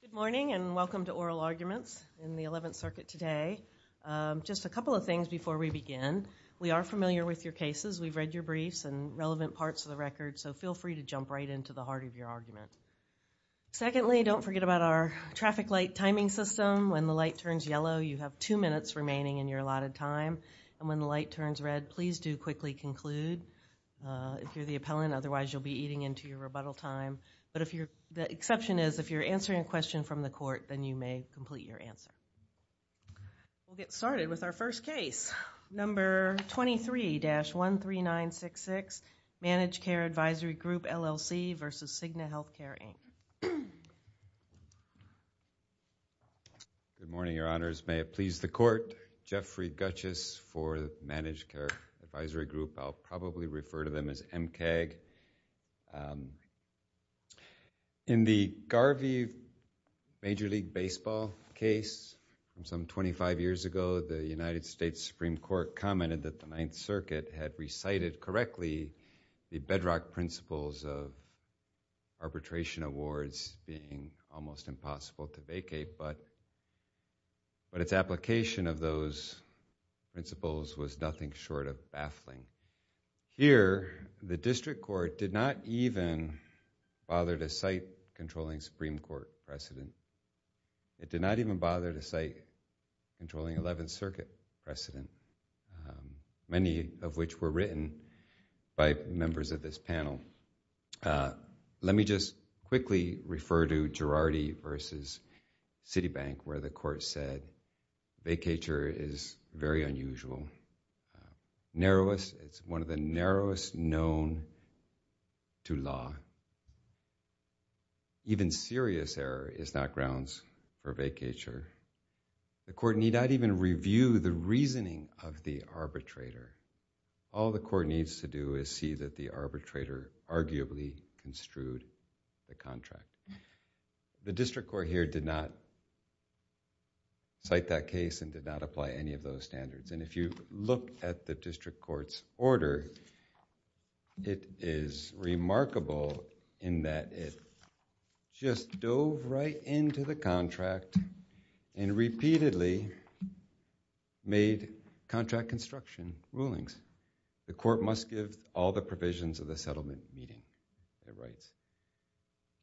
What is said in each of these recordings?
Good morning, and welcome to Oral Arguments in the Eleventh Circuit today. Just a couple of things before we begin. We are familiar with your cases. We've read your briefs and relevant parts of the record, so feel free to jump right into the heart of your argument. Secondly, don't forget about our traffic light timing system. When the light turns yellow, you have two minutes remaining in your allotted time, and when the light turns red, please do quickly conclude if you're the appellant, otherwise you'll be eating into your rebuttal time. The exception is, if you're answering a question from the court, then you may complete your answer. We'll get started with our first case, number 23-13966, Managed Care Advisory Group, LLC v. Cigna Healthcare, Inc. Good morning, Your Honors. May it please the Court, Jeffrey Gutchis for the Managed Care Advisory Group. I'll probably refer to them as MCAG. In the Garvey Major League Baseball case from some 25 years ago, the United States Supreme Court commented that the Ninth Circuit had recited correctly the bedrock principles of arbitration awards being almost impossible to vacate, but its application of those principles was nothing short of baffling. Here, the District Court did not even bother to cite controlling Supreme Court precedent. It did not even bother to cite controlling Eleventh Circuit precedent, many of which were written by members of this panel. Let me just quickly refer to Girardi v. Citibank, where the Court said, vacature is very unusual. It's one of the narrowest known to law. Even serious error is not grounds for vacature. The Court need not even review the reasoning of the arbitrator. All the Court needs to do is see that the arbitrator arguably construed the contract. The District Court here did not cite that case and did not apply any of those standards. If you look at the District Court's order, it is remarkable in that it just dove right into the contract and repeatedly made contract construction rulings. The Court must give all the provisions of the settlement meeting, it writes.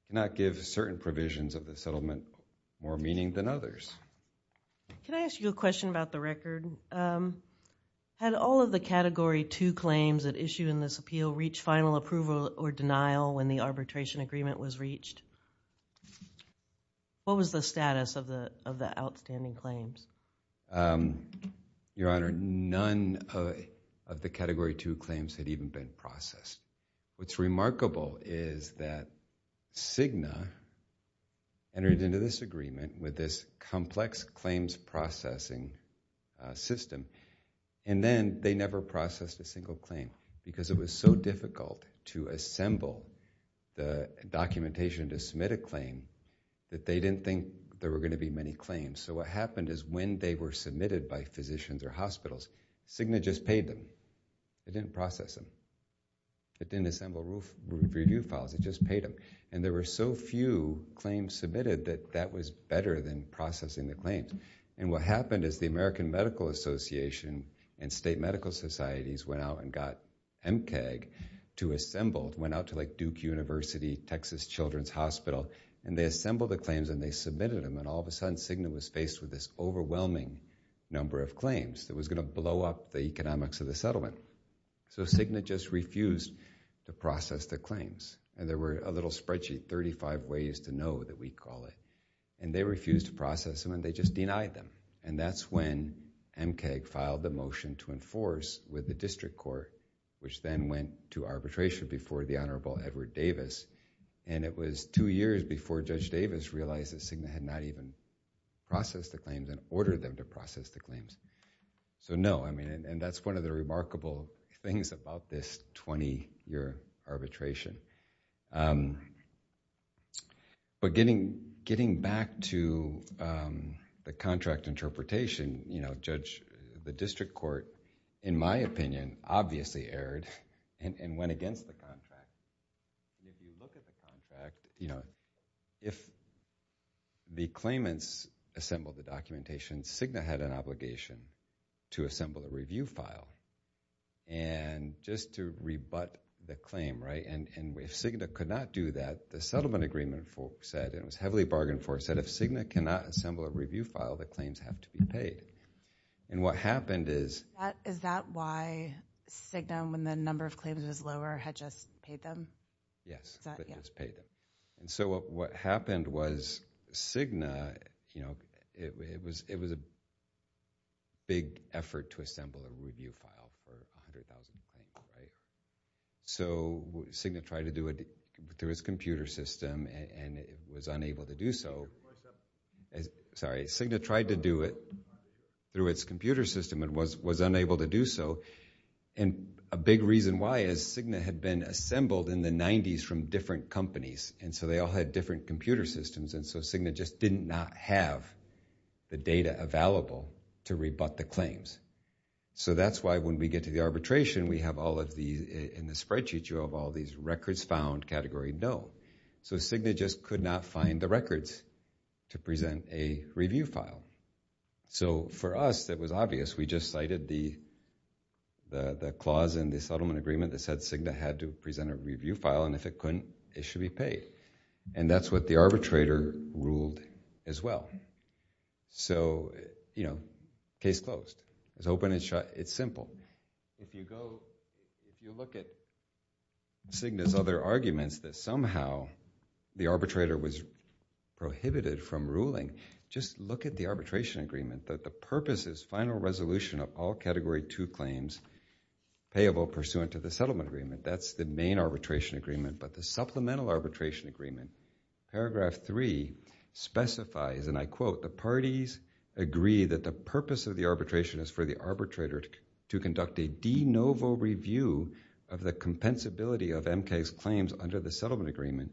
It cannot give certain provisions of the settlement more meaning than others. Can I ask you a question about the record? Had all of the Category 2 claims at issue in this appeal reached final approval or denial when the arbitration agreement was reached? What was the status of the outstanding claims? Your Honor, none of the Category 2 claims had even been processed. What's remarkable is that Cigna entered into this agreement with this complex claims processing system, and then they never processed a single claim because it was so difficult to assemble the documentation to submit a claim that they didn't think there were going to be many claims. So what happened is when they were submitted by physicians or hospitals, Cigna just paid them. It didn't process them. It didn't assemble review files, it just paid them. And there were so few claims submitted that that was better than processing the claims. And what happened is the American Medical Association and state medical societies went out and got MCAG to assemble, went out to like Duke University, Texas Children's Hospital, and they assembled the claims and they submitted them, and all of a sudden Cigna was faced with this overwhelming number of claims that was going to blow up the economics of the settlement, so Cigna just refused to process the claims. And there were a little spreadsheet, 35 ways to know that we'd call it, and they refused to process them and they just denied them. And that's when MCAG filed the motion to enforce with the District Court, which then went to arbitration before the Honorable Edward Davis, and it was two years before Judge Davis realized that Cigna had not even processed the claims and ordered them to process the claims. So no, I mean, and that's one of the remarkable things about this 20-year arbitration. But getting back to the contract interpretation, you know, Judge, the District Court, in my opinion, obviously erred and went against the contract. If you look at the contract, you know, if the claimants assembled the documentation, Cigna had an obligation to assemble a review file. And just to rebut the claim, right, and if Cigna could not do that, the settlement agreement said, and it was heavily bargained for, it said if Cigna cannot assemble a review file, the claims have to be paid. And what happened is. Is that why Cigna, when the number of claims was lower, had just paid them? Yes, they just paid them. And so what happened was Cigna, you know, it was a big effort to assemble a review file for 100,000 claims, right? So Cigna tried to do it through its computer system, and it was unable to do so. Sorry, Cigna tried to do it through its computer system and was unable to do so, and a big reason why is Cigna had been assembled in the 90s from different companies, and so they all had different computer systems, and so Cigna just did not have the data available to rebut the claims. So that's why when we get to the arbitration, we have all of these, in the spreadsheet you have all these records found, category no. So Cigna just could not find the records to present a review file. So for us, it was obvious. We just cited the clause in the settlement agreement that said Cigna had to present a review file, and if it couldn't, it should be paid. And that's what the arbitrator ruled as well. So, you know, case closed. It's open and shut. It's simple. If you go, if you look at Cigna's other arguments that somehow the arbitrator was prohibited from ruling, just look at the arbitration agreement that the purpose is final resolution of all category two claims payable pursuant to the settlement agreement. That's the main arbitration agreement, but the supplemental arbitration agreement, paragraph three specifies, and I quote, the parties agree that the purpose of the arbitration is for the arbitrator to conduct a de novo review of the compensability of MK's claims under the settlement agreement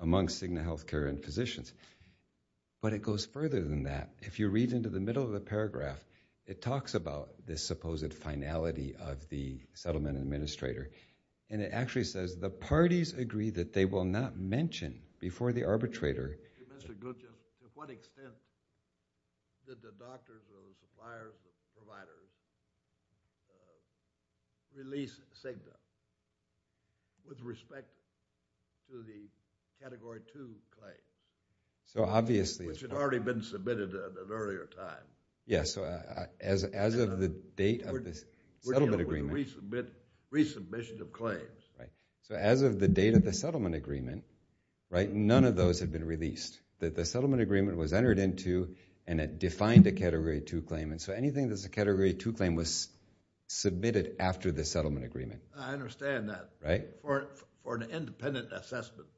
among Cigna Healthcare and Physicians. But it goes further than that. If you read into the middle of the paragraph, it talks about this supposed finality of the settlement administrator, and it actually says the parties agree that they will not mention before the arbitrator. Mr. Glucha, to what extent did the doctors or suppliers or providers release Cigna with respect to the category two claim? So, obviously. Which had already been submitted at an earlier time. Yes, so as of the date of the settlement agreement. Resubmission of claims. Right. So, as of the date of the settlement agreement, right, none of those had been released. The settlement agreement was entered into and it defined a category two claim, and so anything that's a category two claim was submitted after the settlement agreement. I understand that. Right. For an independent assessment.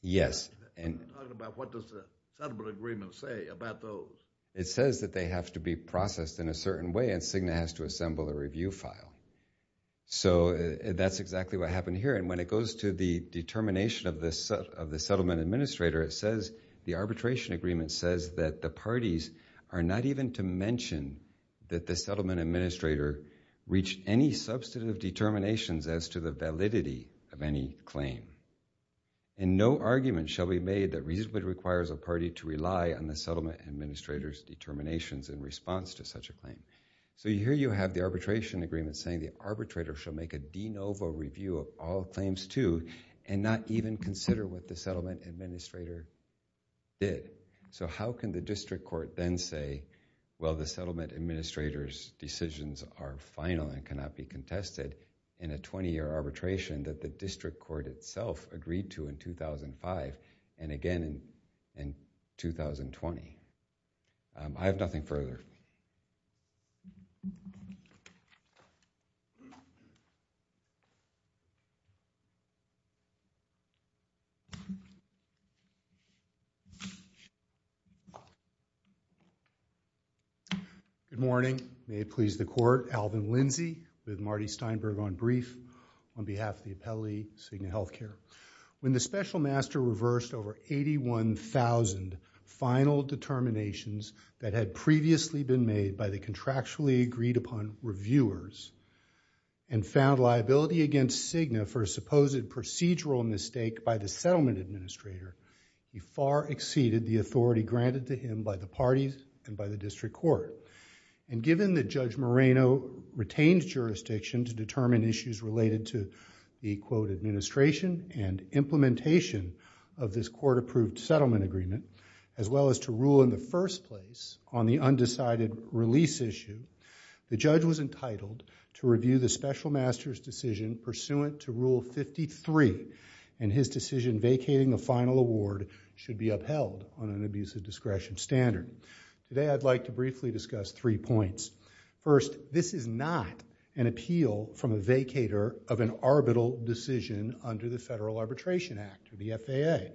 Yes. And what does the settlement agreement say about those? It says that they have to be processed in a certain way, and Cigna has to assemble a review file. So, that's exactly what happened here. And when it goes to the determination of the settlement administrator, it says the arbitration agreement says that the parties are not even to mention that the settlement administrator reached any substantive determinations as to the validity of any claim. And no argument shall be made that reasonably requires a party to rely on the settlement administrator's determinations in response to such a claim. So, here you have the arbitration agreement saying the arbitrator shall make a de novo review of all claims two and not even consider what the settlement administrator did. So, how can the district court then say, well, the settlement administrator's decisions are final and cannot be contested in a 20-year arbitration that the district court itself agreed to in 2005 and again in 2020? I have nothing further. Good morning. May it please the court, Alvin Lindsey with Marty Steinberg on brief on behalf of the appellee, Cigna Healthcare. When the special master reversed over 81,000 final determinations that had previously been made by the contractually agreed upon reviewers and found liability against Cigna for a supposed procedural mistake by the settlement administrator, he far exceeded the authority granted to him by the parties and by the district court. And given that Judge Moreno retained jurisdiction to determine issues related to the, quote, administration and implementation of this court-approved settlement agreement as well as to rule in the first place on the undecided release issue, the judge was entitled to review the special master's decision pursuant to Rule 53 and his decision vacating the final award should be upheld on an abuse of discretion standard. Today, I'd like to briefly discuss three points. First, this is not an appeal from a vacator of an arbitral decision under the Federal Arbitration Act or the FAA,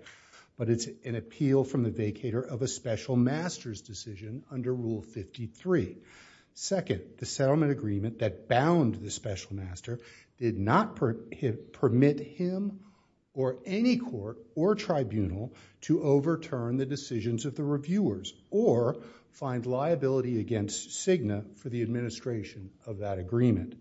but it's an appeal from the vacator of a special master's decision under Rule 53. Second, the settlement agreement that bound the special master did not permit him or any court or tribunal to overturn the decisions of the reviewers or find liability against Cigna for the administration of that agreement.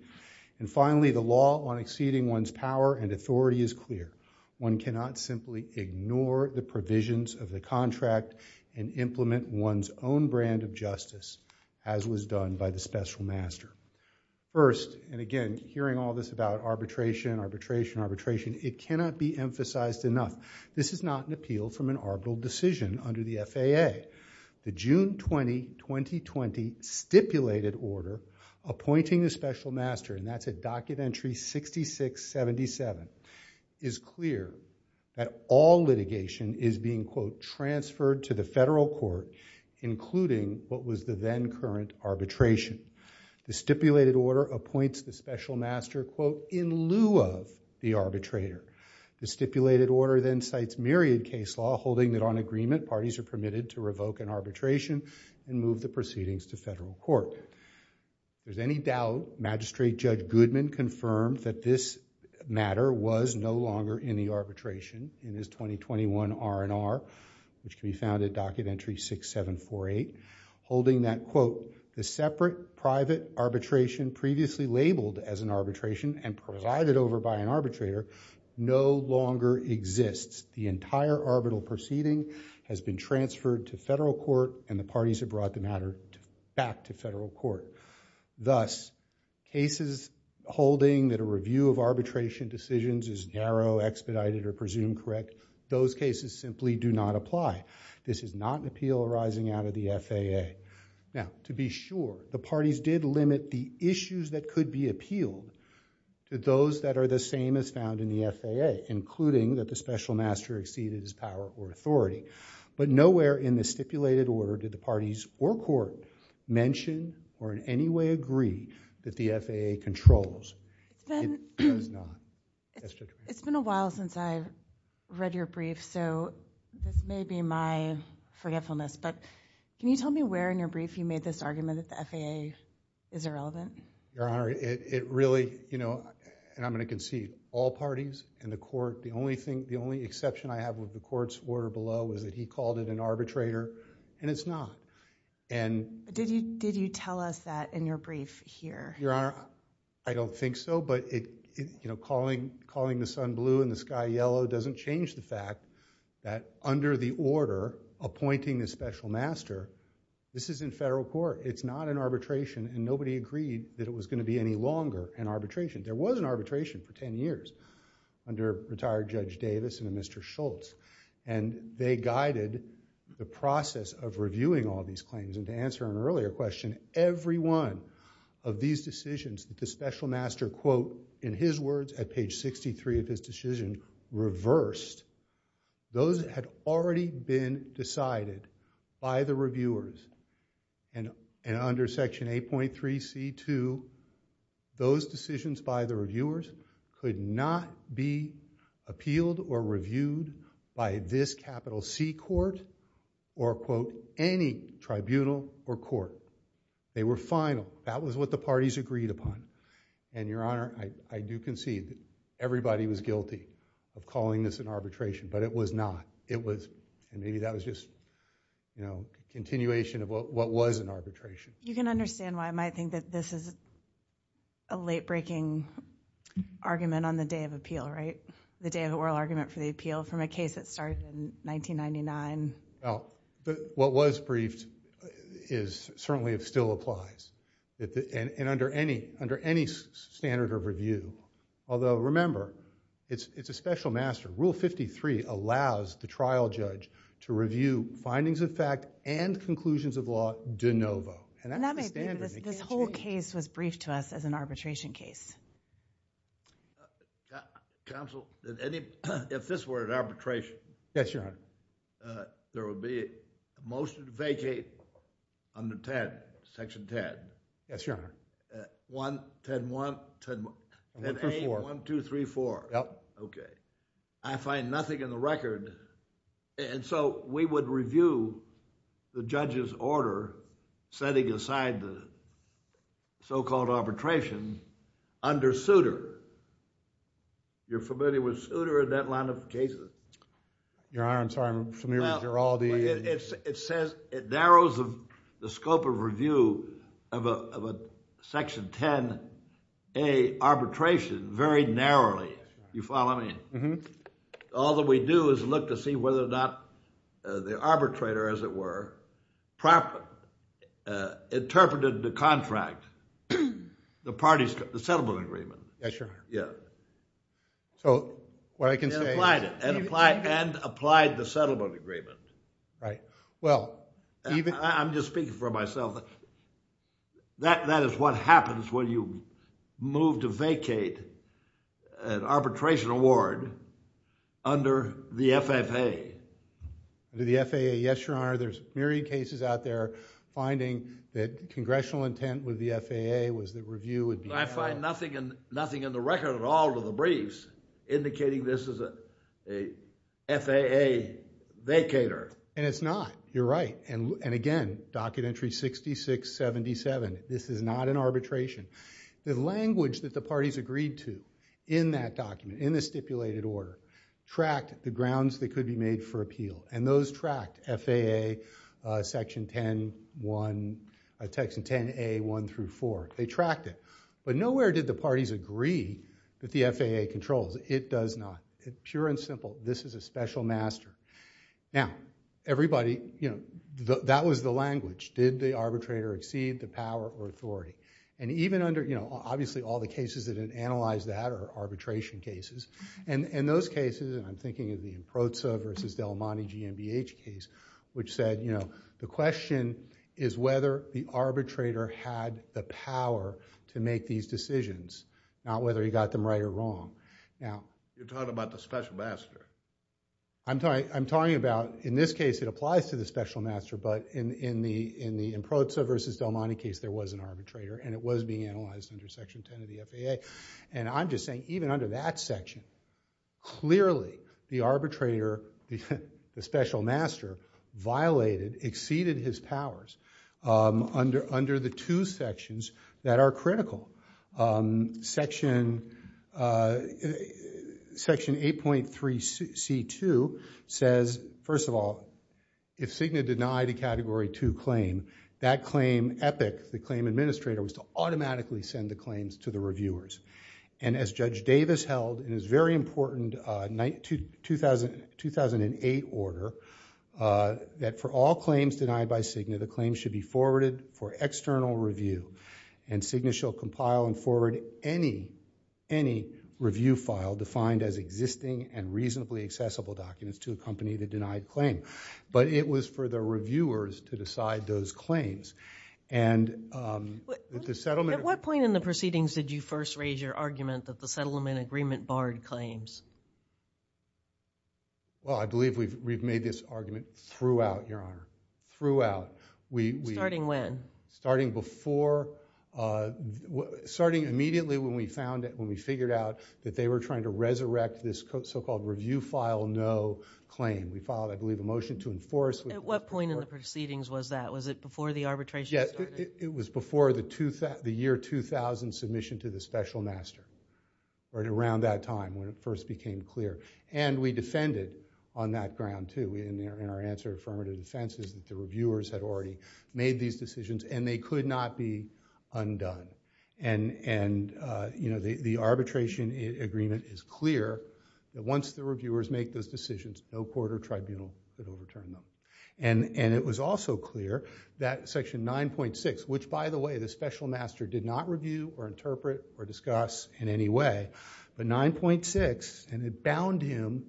And finally, the law on exceeding one's power and authority is clear. One cannot simply ignore the provisions of the contract and implement one's own brand of justice as was done by the special master. First, and again, hearing all this about arbitration, arbitration, arbitration, it cannot be emphasized enough. This is not an appeal from an arbitral decision under the FAA. The June 20, 2020 stipulated order appointing the special master, and that's at docket entry 6677, is clear that all litigation is being, quote, transferred to the federal court, including what was the then current arbitration. The stipulated order appoints the special master, quote, in lieu of the arbitrator. The stipulated order then cites myriad case law holding that on agreement, parties are permitted to revoke an arbitration and move the proceedings to federal court. If there's any doubt, Magistrate Judge Goodman confirmed that this matter was no longer in the arbitration in his 2021 R&R, which can be found at docket entry 6748, holding that, quote, the separate private arbitration previously labeled as an arbitration and provided over by an arbitrator no longer exists. The entire arbitral proceeding has been transferred to federal court and the parties have brought the matter back to federal court. Thus, cases holding that a review of arbitration decisions is narrow, expedited, or presumed correct, those cases simply do not apply. This is not an appeal arising out of the FAA. Now, to be sure, the parties did limit the issues that could be appealed to those that are the same as found in the FAA, including that the special master exceeded his power or authority. But nowhere in the stipulated order did the parties or court mention or in any way agree that the FAA controls. It does not. Yes, Judge? It's been a while since I read your brief, so this may be my forgetfulness, but can you tell me where in your brief you made this argument that the FAA is irrelevant? Your Honor, it really, you know, and I'm going to concede, all parties in the court, the only thing, the only exception I have with the court's order below is that he called it an arbitrator, and it's not. And. Did you tell us that in your brief here? Your Honor, I don't think so, but it, you know, calling the sun blue and the sky yellow doesn't change the fact that under the order appointing the special master, this is in federal court. It's not an arbitration, and nobody agreed that it was going to be any longer an arbitration. There was an arbitration for 10 years under retired Judge Davis and Mr. Schultz, and they guided the process of reviewing all these claims. And to answer an earlier question, every one of these decisions that the special master, quote, in his words at page 63 of his decision, reversed, those had already been decided by the reviewers, and under section 8.3C2, those decisions by the reviewers could not be appealed or reviewed by this capital C court, or quote, any tribunal or court. They were final. That was what the parties agreed upon. And, Your Honor, I do concede that everybody was guilty of calling this an arbitration, but it was not. It was, and maybe that was just, you know, a continuation of what was an arbitration. You can understand why I might think that this is a late-breaking argument on the day of appeal, right, the day of oral argument for the appeal from a case that started in 1999. Well, what was briefed is, certainly still applies, and under any standard of review, although remember, it's a special master. Rule 53 allows the trial judge to review findings of fact and conclusions of law de novo. And that's the standard... And that may be, this whole case was briefed to us as an arbitration case. Counsel, if this were an arbitration... Yes, Your Honor....... there would be a motion to vacate under 10, section 10. Yes, Your Honor. 1, 10.1, 10.8, 1, 2, 3, 4. Yep. Okay. I find nothing in the record. And so, we would review the judge's order setting aside the so-called arbitration under suitor. You're familiar with suitor in that line of cases? Your Honor, I'm sorry, I'm familiar with all the... It says, it narrows the scope of review of a section 10A arbitration very narrowly. You follow me? All that we do is look to see whether or not the arbitrator, as it were, properly interpreted the contract, the parties, the settlement agreement. Yes, Your Honor. Yeah. So, what I can say... And applied the settlement agreement. Right. Well, even... I'm just speaking for myself. That is what happens when you move to vacate an arbitration award under the FAA. Under the FAA. Yes, Your Honor. There's myriad cases out there finding that congressional intent with the FAA was that review would be... I find nothing in the record at all to the briefs indicating this is a FAA vacater. And it's not. You're right. And again, Docket Entry 6677, this is not an arbitration. The language that the parties agreed to in that document, in the stipulated order, tracked the grounds that could be made for appeal. And those tracked FAA Section 10A 1 through 4. They tracked it. But nowhere did the parties agree that the FAA controls. It does not. Pure and simple. This is a special master. Now, everybody... That was the language. Did the arbitrator exceed the power or authority? And even under... Obviously, all the cases that didn't analyze that are arbitration cases. And those cases, and I'm thinking of the Improza v. Del Monte GMBH case, which said the question is whether the arbitrator had the power to make these decisions, not whether he got them right or wrong. Now... You're talking about the special master. I'm sorry. I'm talking about... In this case, it applies to the special master. But in the Improza v. Del Monte case, there was an arbitrator. And it was being analyzed under Section 10 of the FAA. And I'm just saying, even under that section, clearly, the arbitrator, the special master violated, exceeded his powers under the two sections that are critical. Section 8.3c.2 says, first of all, if Cigna denied a Category 2 claim, that claim EPIC, the claim administrator, was to automatically send the claims to the reviewers. And as Judge Davis held in his very important 2008 order, that for all claims denied by Cigna, the claims should be forwarded for external review. And Cigna shall compile and forward any review file defined as existing and reasonably accessible documents to a company that denied the claim. But it was for the reviewers to decide those claims. And the settlement... At what point in the proceedings did you first raise your argument that the settlement agreement barred claims? Well, I believe we've made this argument throughout, Your Honor. Starting when? Starting before... starting immediately when we found out, when we figured out that they were trying to resurrect this so-called review file no claim. We filed, I believe, a motion to enforce... At what point in the proceedings was that? Was it before the arbitration started? Yes. It was before the year 2000 submission to the special master, right around that time when it first became clear. And we defended on that ground, too, in our answer to affirmative defenses that the reviewers had already made these decisions and they could not be undone. And the arbitration agreement is clear that once the reviewers make those decisions, no court or tribunal could overturn them. And it was also clear that Section 9.6, which, by the way, the special master did not review or interpret or discuss in any way, but 9.6, and it bound him,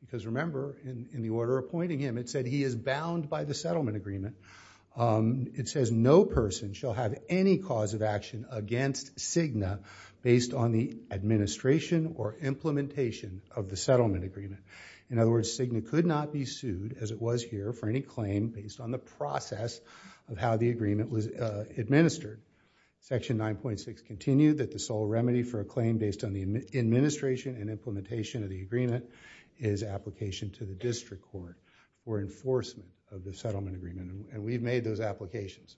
because remember, in the order appointing him, it said he is bound by the settlement agreement. It says no person shall have any cause of action against Cigna based on the administration or implementation of the settlement agreement. In other words, Cigna could not be sued, as it was here, for any claim based on the process of how the agreement was administered. Section 9.6 continued that the sole remedy for a claim based on the administration and implementation of the agreement is application to the district court for enforcement of the settlement agreement. And we've made those applications.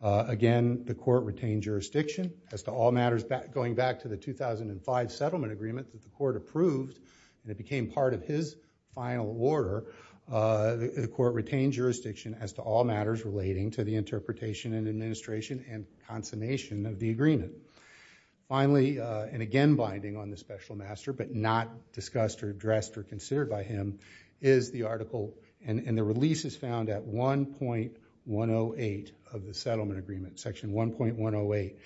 Again, the court retained jurisdiction as to all matters going back to the 2005 settlement agreement that the court approved, and it became part of his final order, the court Finally, and again, binding on the special master, but not discussed or addressed or considered by him, is the article, and the release is found at 1.108 of the settlement agreement, Section 1.108.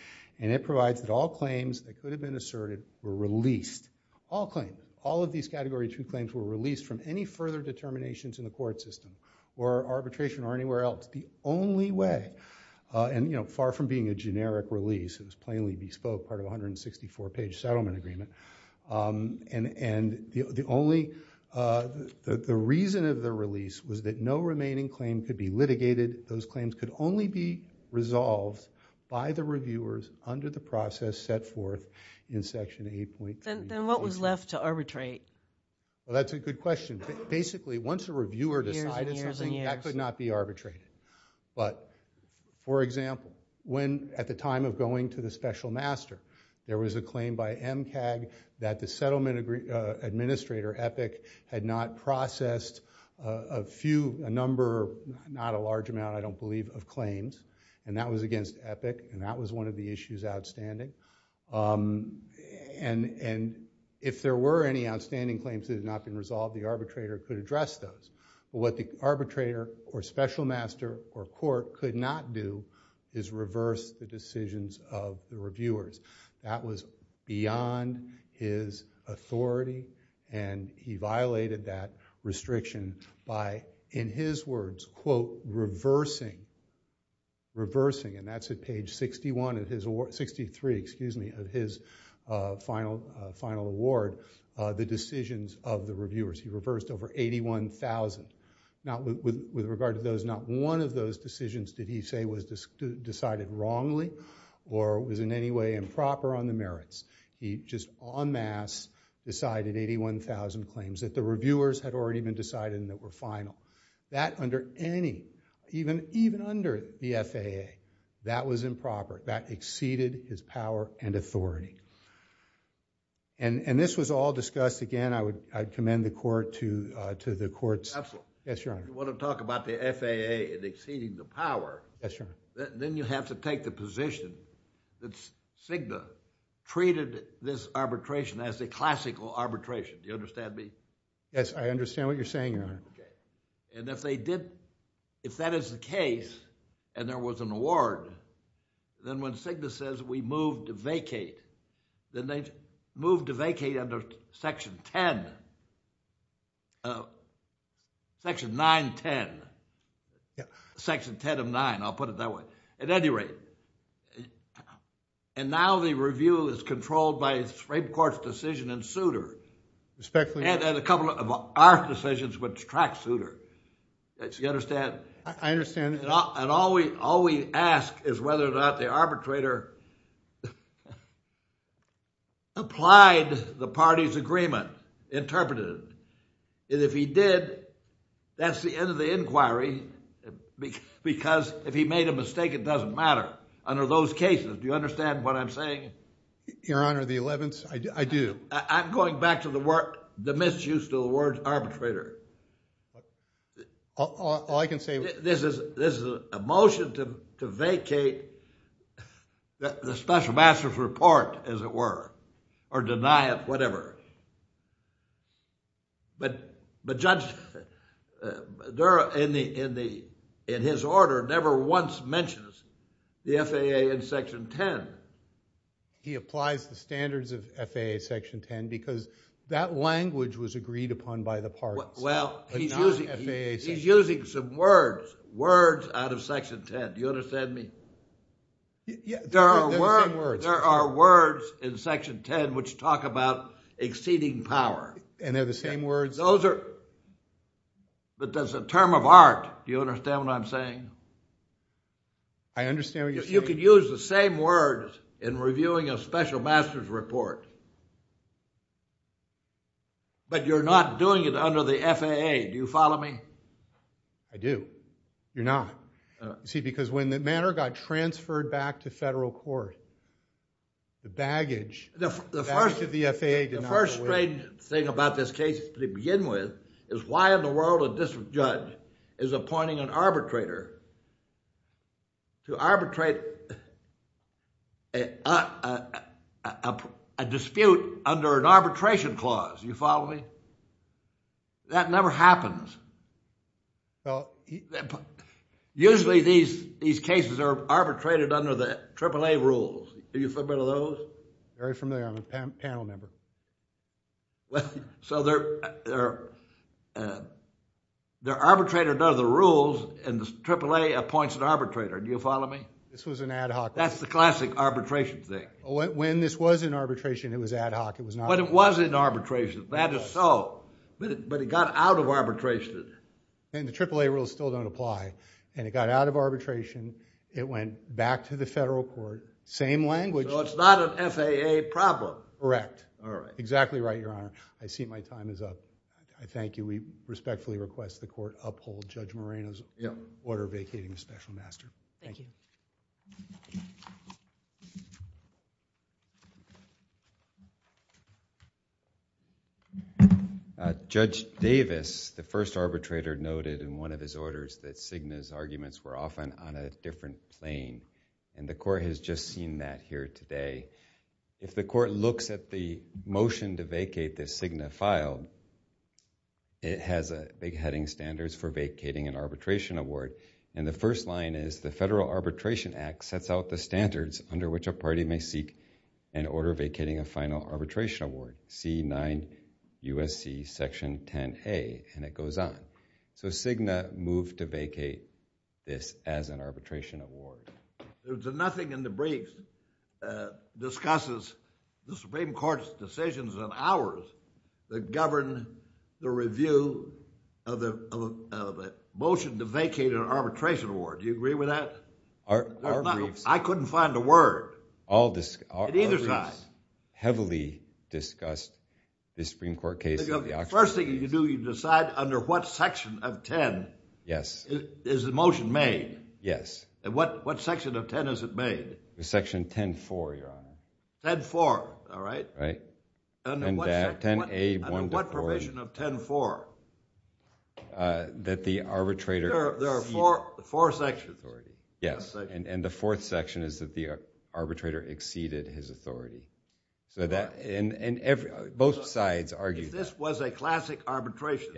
And it provides that all claims that could have been asserted were released, all claims, all of these Category 2 claims were released from any further determinations in the court system or arbitration or anywhere else. That the only way, and far from being a generic release, it was plainly bespoke, part of 164 page settlement agreement, and the only, the reason of the release was that no remaining claim could be litigated. Those claims could only be resolved by the reviewers under the process set forth in Section 8.3. Then what was left to arbitrate? Well, that's a good question. Basically, once a reviewer decided something, that could not be arbitrated. But for example, when, at the time of going to the special master, there was a claim by MCAG that the settlement administrator, Epic, had not processed a few, a number, not a large amount, I don't believe, of claims, and that was against Epic, and that was one of the issues outstanding, and if there were any outstanding claims that had not been resolved, the arbitrator could address those. But what the arbitrator or special master or court could not do is reverse the decisions of the reviewers. That was beyond his authority, and he violated that restriction by, in his words, quote, reversing, reversing, and that's at page 61 of his, 63, excuse me, of his final award, the decisions of the reviewers. He reversed over 81,000. With regard to those, not one of those decisions did he say was decided wrongly or was in any way improper on the merits. He just en masse decided 81,000 claims that the reviewers had already been decided and that were final. That under any, even under the FAA, that was improper. That exceeded his power and authority. And this was all discussed, again, I would commend the court to the court's... Yes, Your Honor. If you want to talk about the FAA and exceeding the power, then you have to take the position that Cigna treated this arbitration as a classical arbitration, do you understand me? Yes, I understand what you're saying, Your Honor. And if they did, if that is the case, and there was an award, then when Cigna says we moved to vacate, then they moved to vacate under Section 10, Section 910, Section 10 of 9. I'll put it that way. At any rate, and now the review is controlled by the Supreme Court's decision in Souter. Respectfully, Your Honor. And a couple of our decisions which track Souter, do you understand? I understand. And all we ask is whether or not the arbitrator applied the party's agreement, interpreted it. And if he did, that's the end of the inquiry, because if he made a mistake, it doesn't matter under those cases. Do you understand what I'm saying? Your Honor, the 11th, I do. I'm going back to the misuse of the word arbitrator. All I can say... This is a motion to vacate the special master's report, as it were, or deny it, whatever. But Judge Dura, in his order, never once mentions the FAA in Section 10. He applies the standards of FAA Section 10, because that language was agreed upon by the parties. Well, he's using some words, words out of Section 10. Do you understand me? Yeah, they're the same words. There are words in Section 10 which talk about exceeding power. And they're the same words? Those are... but that's a term of art. Do you understand what I'm saying? I understand what you're saying. You can use the same words in reviewing a special master's report, but you're not doing it under the FAA. Do you follow me? I do. You're not? No. You see, because when the matter got transferred back to federal court, the baggage... The first...... back to the FAA did not... The first strange thing about this case to begin with is why in the world a district judge is appointing an arbitrator to arbitrate a dispute under an arbitration clause? Do you follow me? That never happens. Usually, these cases are arbitrated under the AAA rules. Are you familiar with those? Very familiar. I'm a panel member. So they're arbitrated under the rules and the AAA appoints an arbitrator. Do you follow me? This was an ad hoc... That's the classic arbitration thing. When this was an arbitration, it was ad hoc. It was not... But it was an arbitration. That is so. But it got out of arbitration. And the AAA rules still don't apply. And it got out of arbitration. It went back to the federal court. Same language. So it's not an FAA problem. Correct. All right. Exactly right, Your Honor. I see my time is up. I thank you. We respectfully request the court uphold Judge Moreno's order vacating the special master. Thank you. Judge Davis, the first arbitrator, noted in one of his orders that Cigna's arguments were often on a different plane. And the court has just seen that here today. If the court looks at the motion to vacate that Cigna filed, it has big heading standards for vacating an arbitration award. And the first line is, the Federal Arbitration Act sets out the standards under which a party may seek an order vacating a final arbitration award, C9 U.S.C. Section 10A, and it goes on. So Cigna moved to vacate this as an arbitration award. There's nothing in the briefs that discusses the Supreme Court's decisions and ours that govern the review of the motion to vacate an arbitration award. Do you agree with that? Our briefs. I couldn't find a word. In either side. Our briefs heavily discussed the Supreme Court case. The first thing you do, you decide under what section of 10 is the motion made. Yes. And what section of 10 is it made? Section 10.4, Your Honor. 10.4, all right. Under what provision of 10.4? That the arbitrator... There are four sections. Yes. And the fourth section is that the arbitrator exceeded his authority. So that... And both sides argued that. If this was a classic arbitration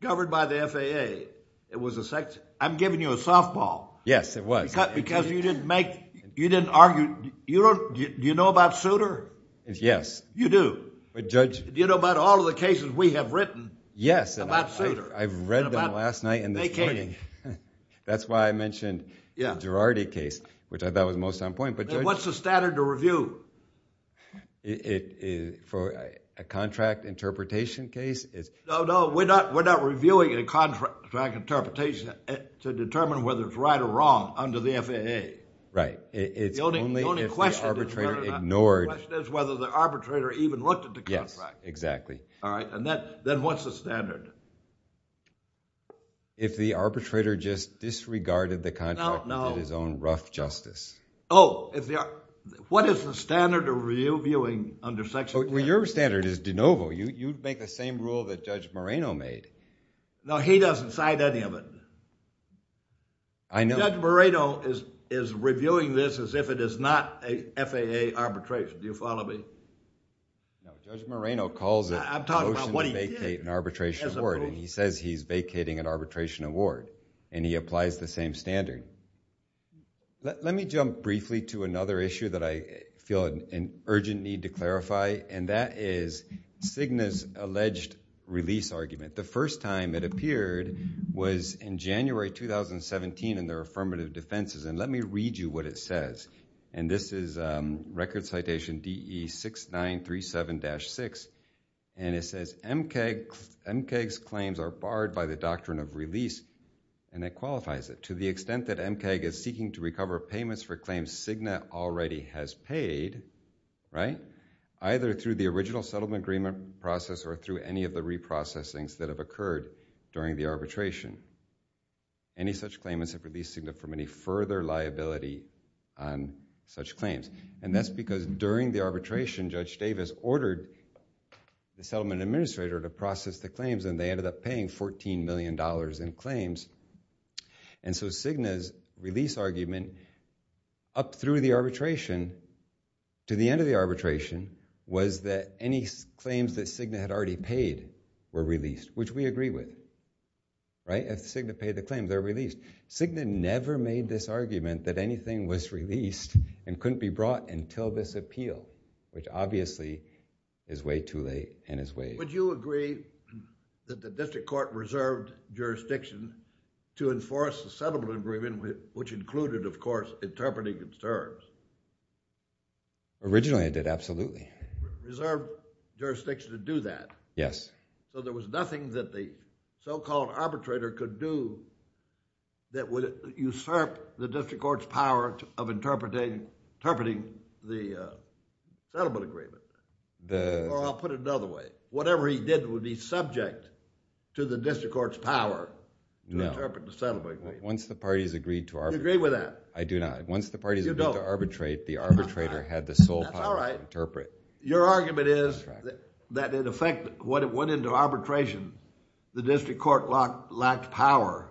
governed by the FAA, it was a section... I'm giving you a softball. Yes, it was. Because you didn't make... You didn't argue... You don't... Do you know about Souter? Yes. You do. But Judge... Do you know about all of the cases we have written about Souter? Yes. I've read them last night and this morning. That's why I mentioned the Girardi case, which I thought was most on point. But Judge... Then what's the standard to review? For a contract interpretation case is... No, no. We're not reviewing a contract interpretation to determine whether it's right or wrong under the FAA. Right. It's only if the arbitrator ignored... The question is whether the arbitrator even looked at the contract. Yes, exactly. All right. And then what's the standard? If the arbitrator just disregarded the contract... ...and did his own rough justice. Oh. If the... What is the standard of reviewing under Section 10? Well, your standard is de novo. You'd make the same rule that Judge Moreno made. No, he doesn't cite any of it. I know... Judge Moreno is reviewing this as if it is not a FAA arbitration. Do you follow me? No, Judge Moreno calls it... I'm talking about what he did. ...a motion to vacate an arbitration. And he says he's vacating an arbitration award. And he applies the same standard. Let me jump briefly to another issue that I feel an urgent need to clarify. And that is Cigna's alleged release argument. The first time it appeared was in January 2017 in their affirmative defenses. And let me read you what it says. And this is record citation DE6937-6. And it says, MCAG's claims are barred by the doctrine of release. And that qualifies it. To the extent that MCAG is seeking to recover payments for claims Cigna already has paid, right, either through the original settlement agreement process or through any of the reprocessings that have occurred during the arbitration. Any such claimants have released Cigna from any further liability on such claims. And that's because during the arbitration, Judge Davis ordered the settlement administrator to process the claims, and they ended up paying $14 million in claims. And so Cigna's release argument up through the arbitration to the end of the arbitration was that any claims that Cigna had already paid were released, which we agree with. Right? If Cigna paid the claim, they're released. Cigna never made this argument that anything was released and couldn't be brought until this appeal, which obviously is way too late and is way too late. Would you agree that the district court reserved jurisdiction to enforce the settlement agreement, which included, of course, interpreting its terms? Originally, I did. Absolutely. Reserved jurisdiction to do that? Yes. So there was nothing that the so-called arbitrator could do that would usurp the district court's power of interpreting the settlement agreement. Or I'll put it another way. Whatever he did would be subject to the district court's power to interpret the settlement agreement. Once the parties agreed to arbitrate. You agree with that? I do not. Once the parties agreed to arbitrate, the arbitrator had the sole power to interpret. That's all right. Your argument is that in effect, when it went into arbitration, the district court lacked power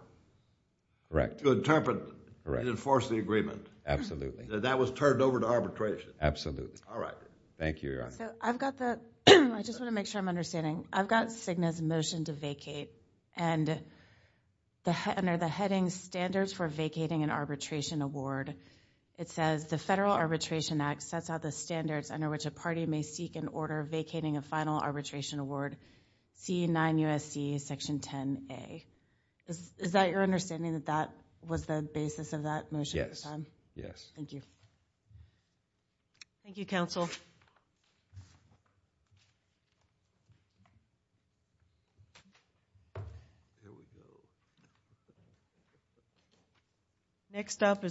to interpret and enforce the agreement. Absolutely. That was turned over to arbitration. Absolutely. All right. Thank you, Your Honor. I just want to make sure I'm understanding. I've got Cigna's motion to vacate, and under the heading Standards for Vacating an Arbitration Award, it says the Federal Arbitration Act sets out the standards under which a party may seek in order of vacating a final arbitration award, C9USD Section 10A. Is that your understanding that that was the basis of that motion at the time? Yes. Thank you. Thank you, Counsel. Here we go.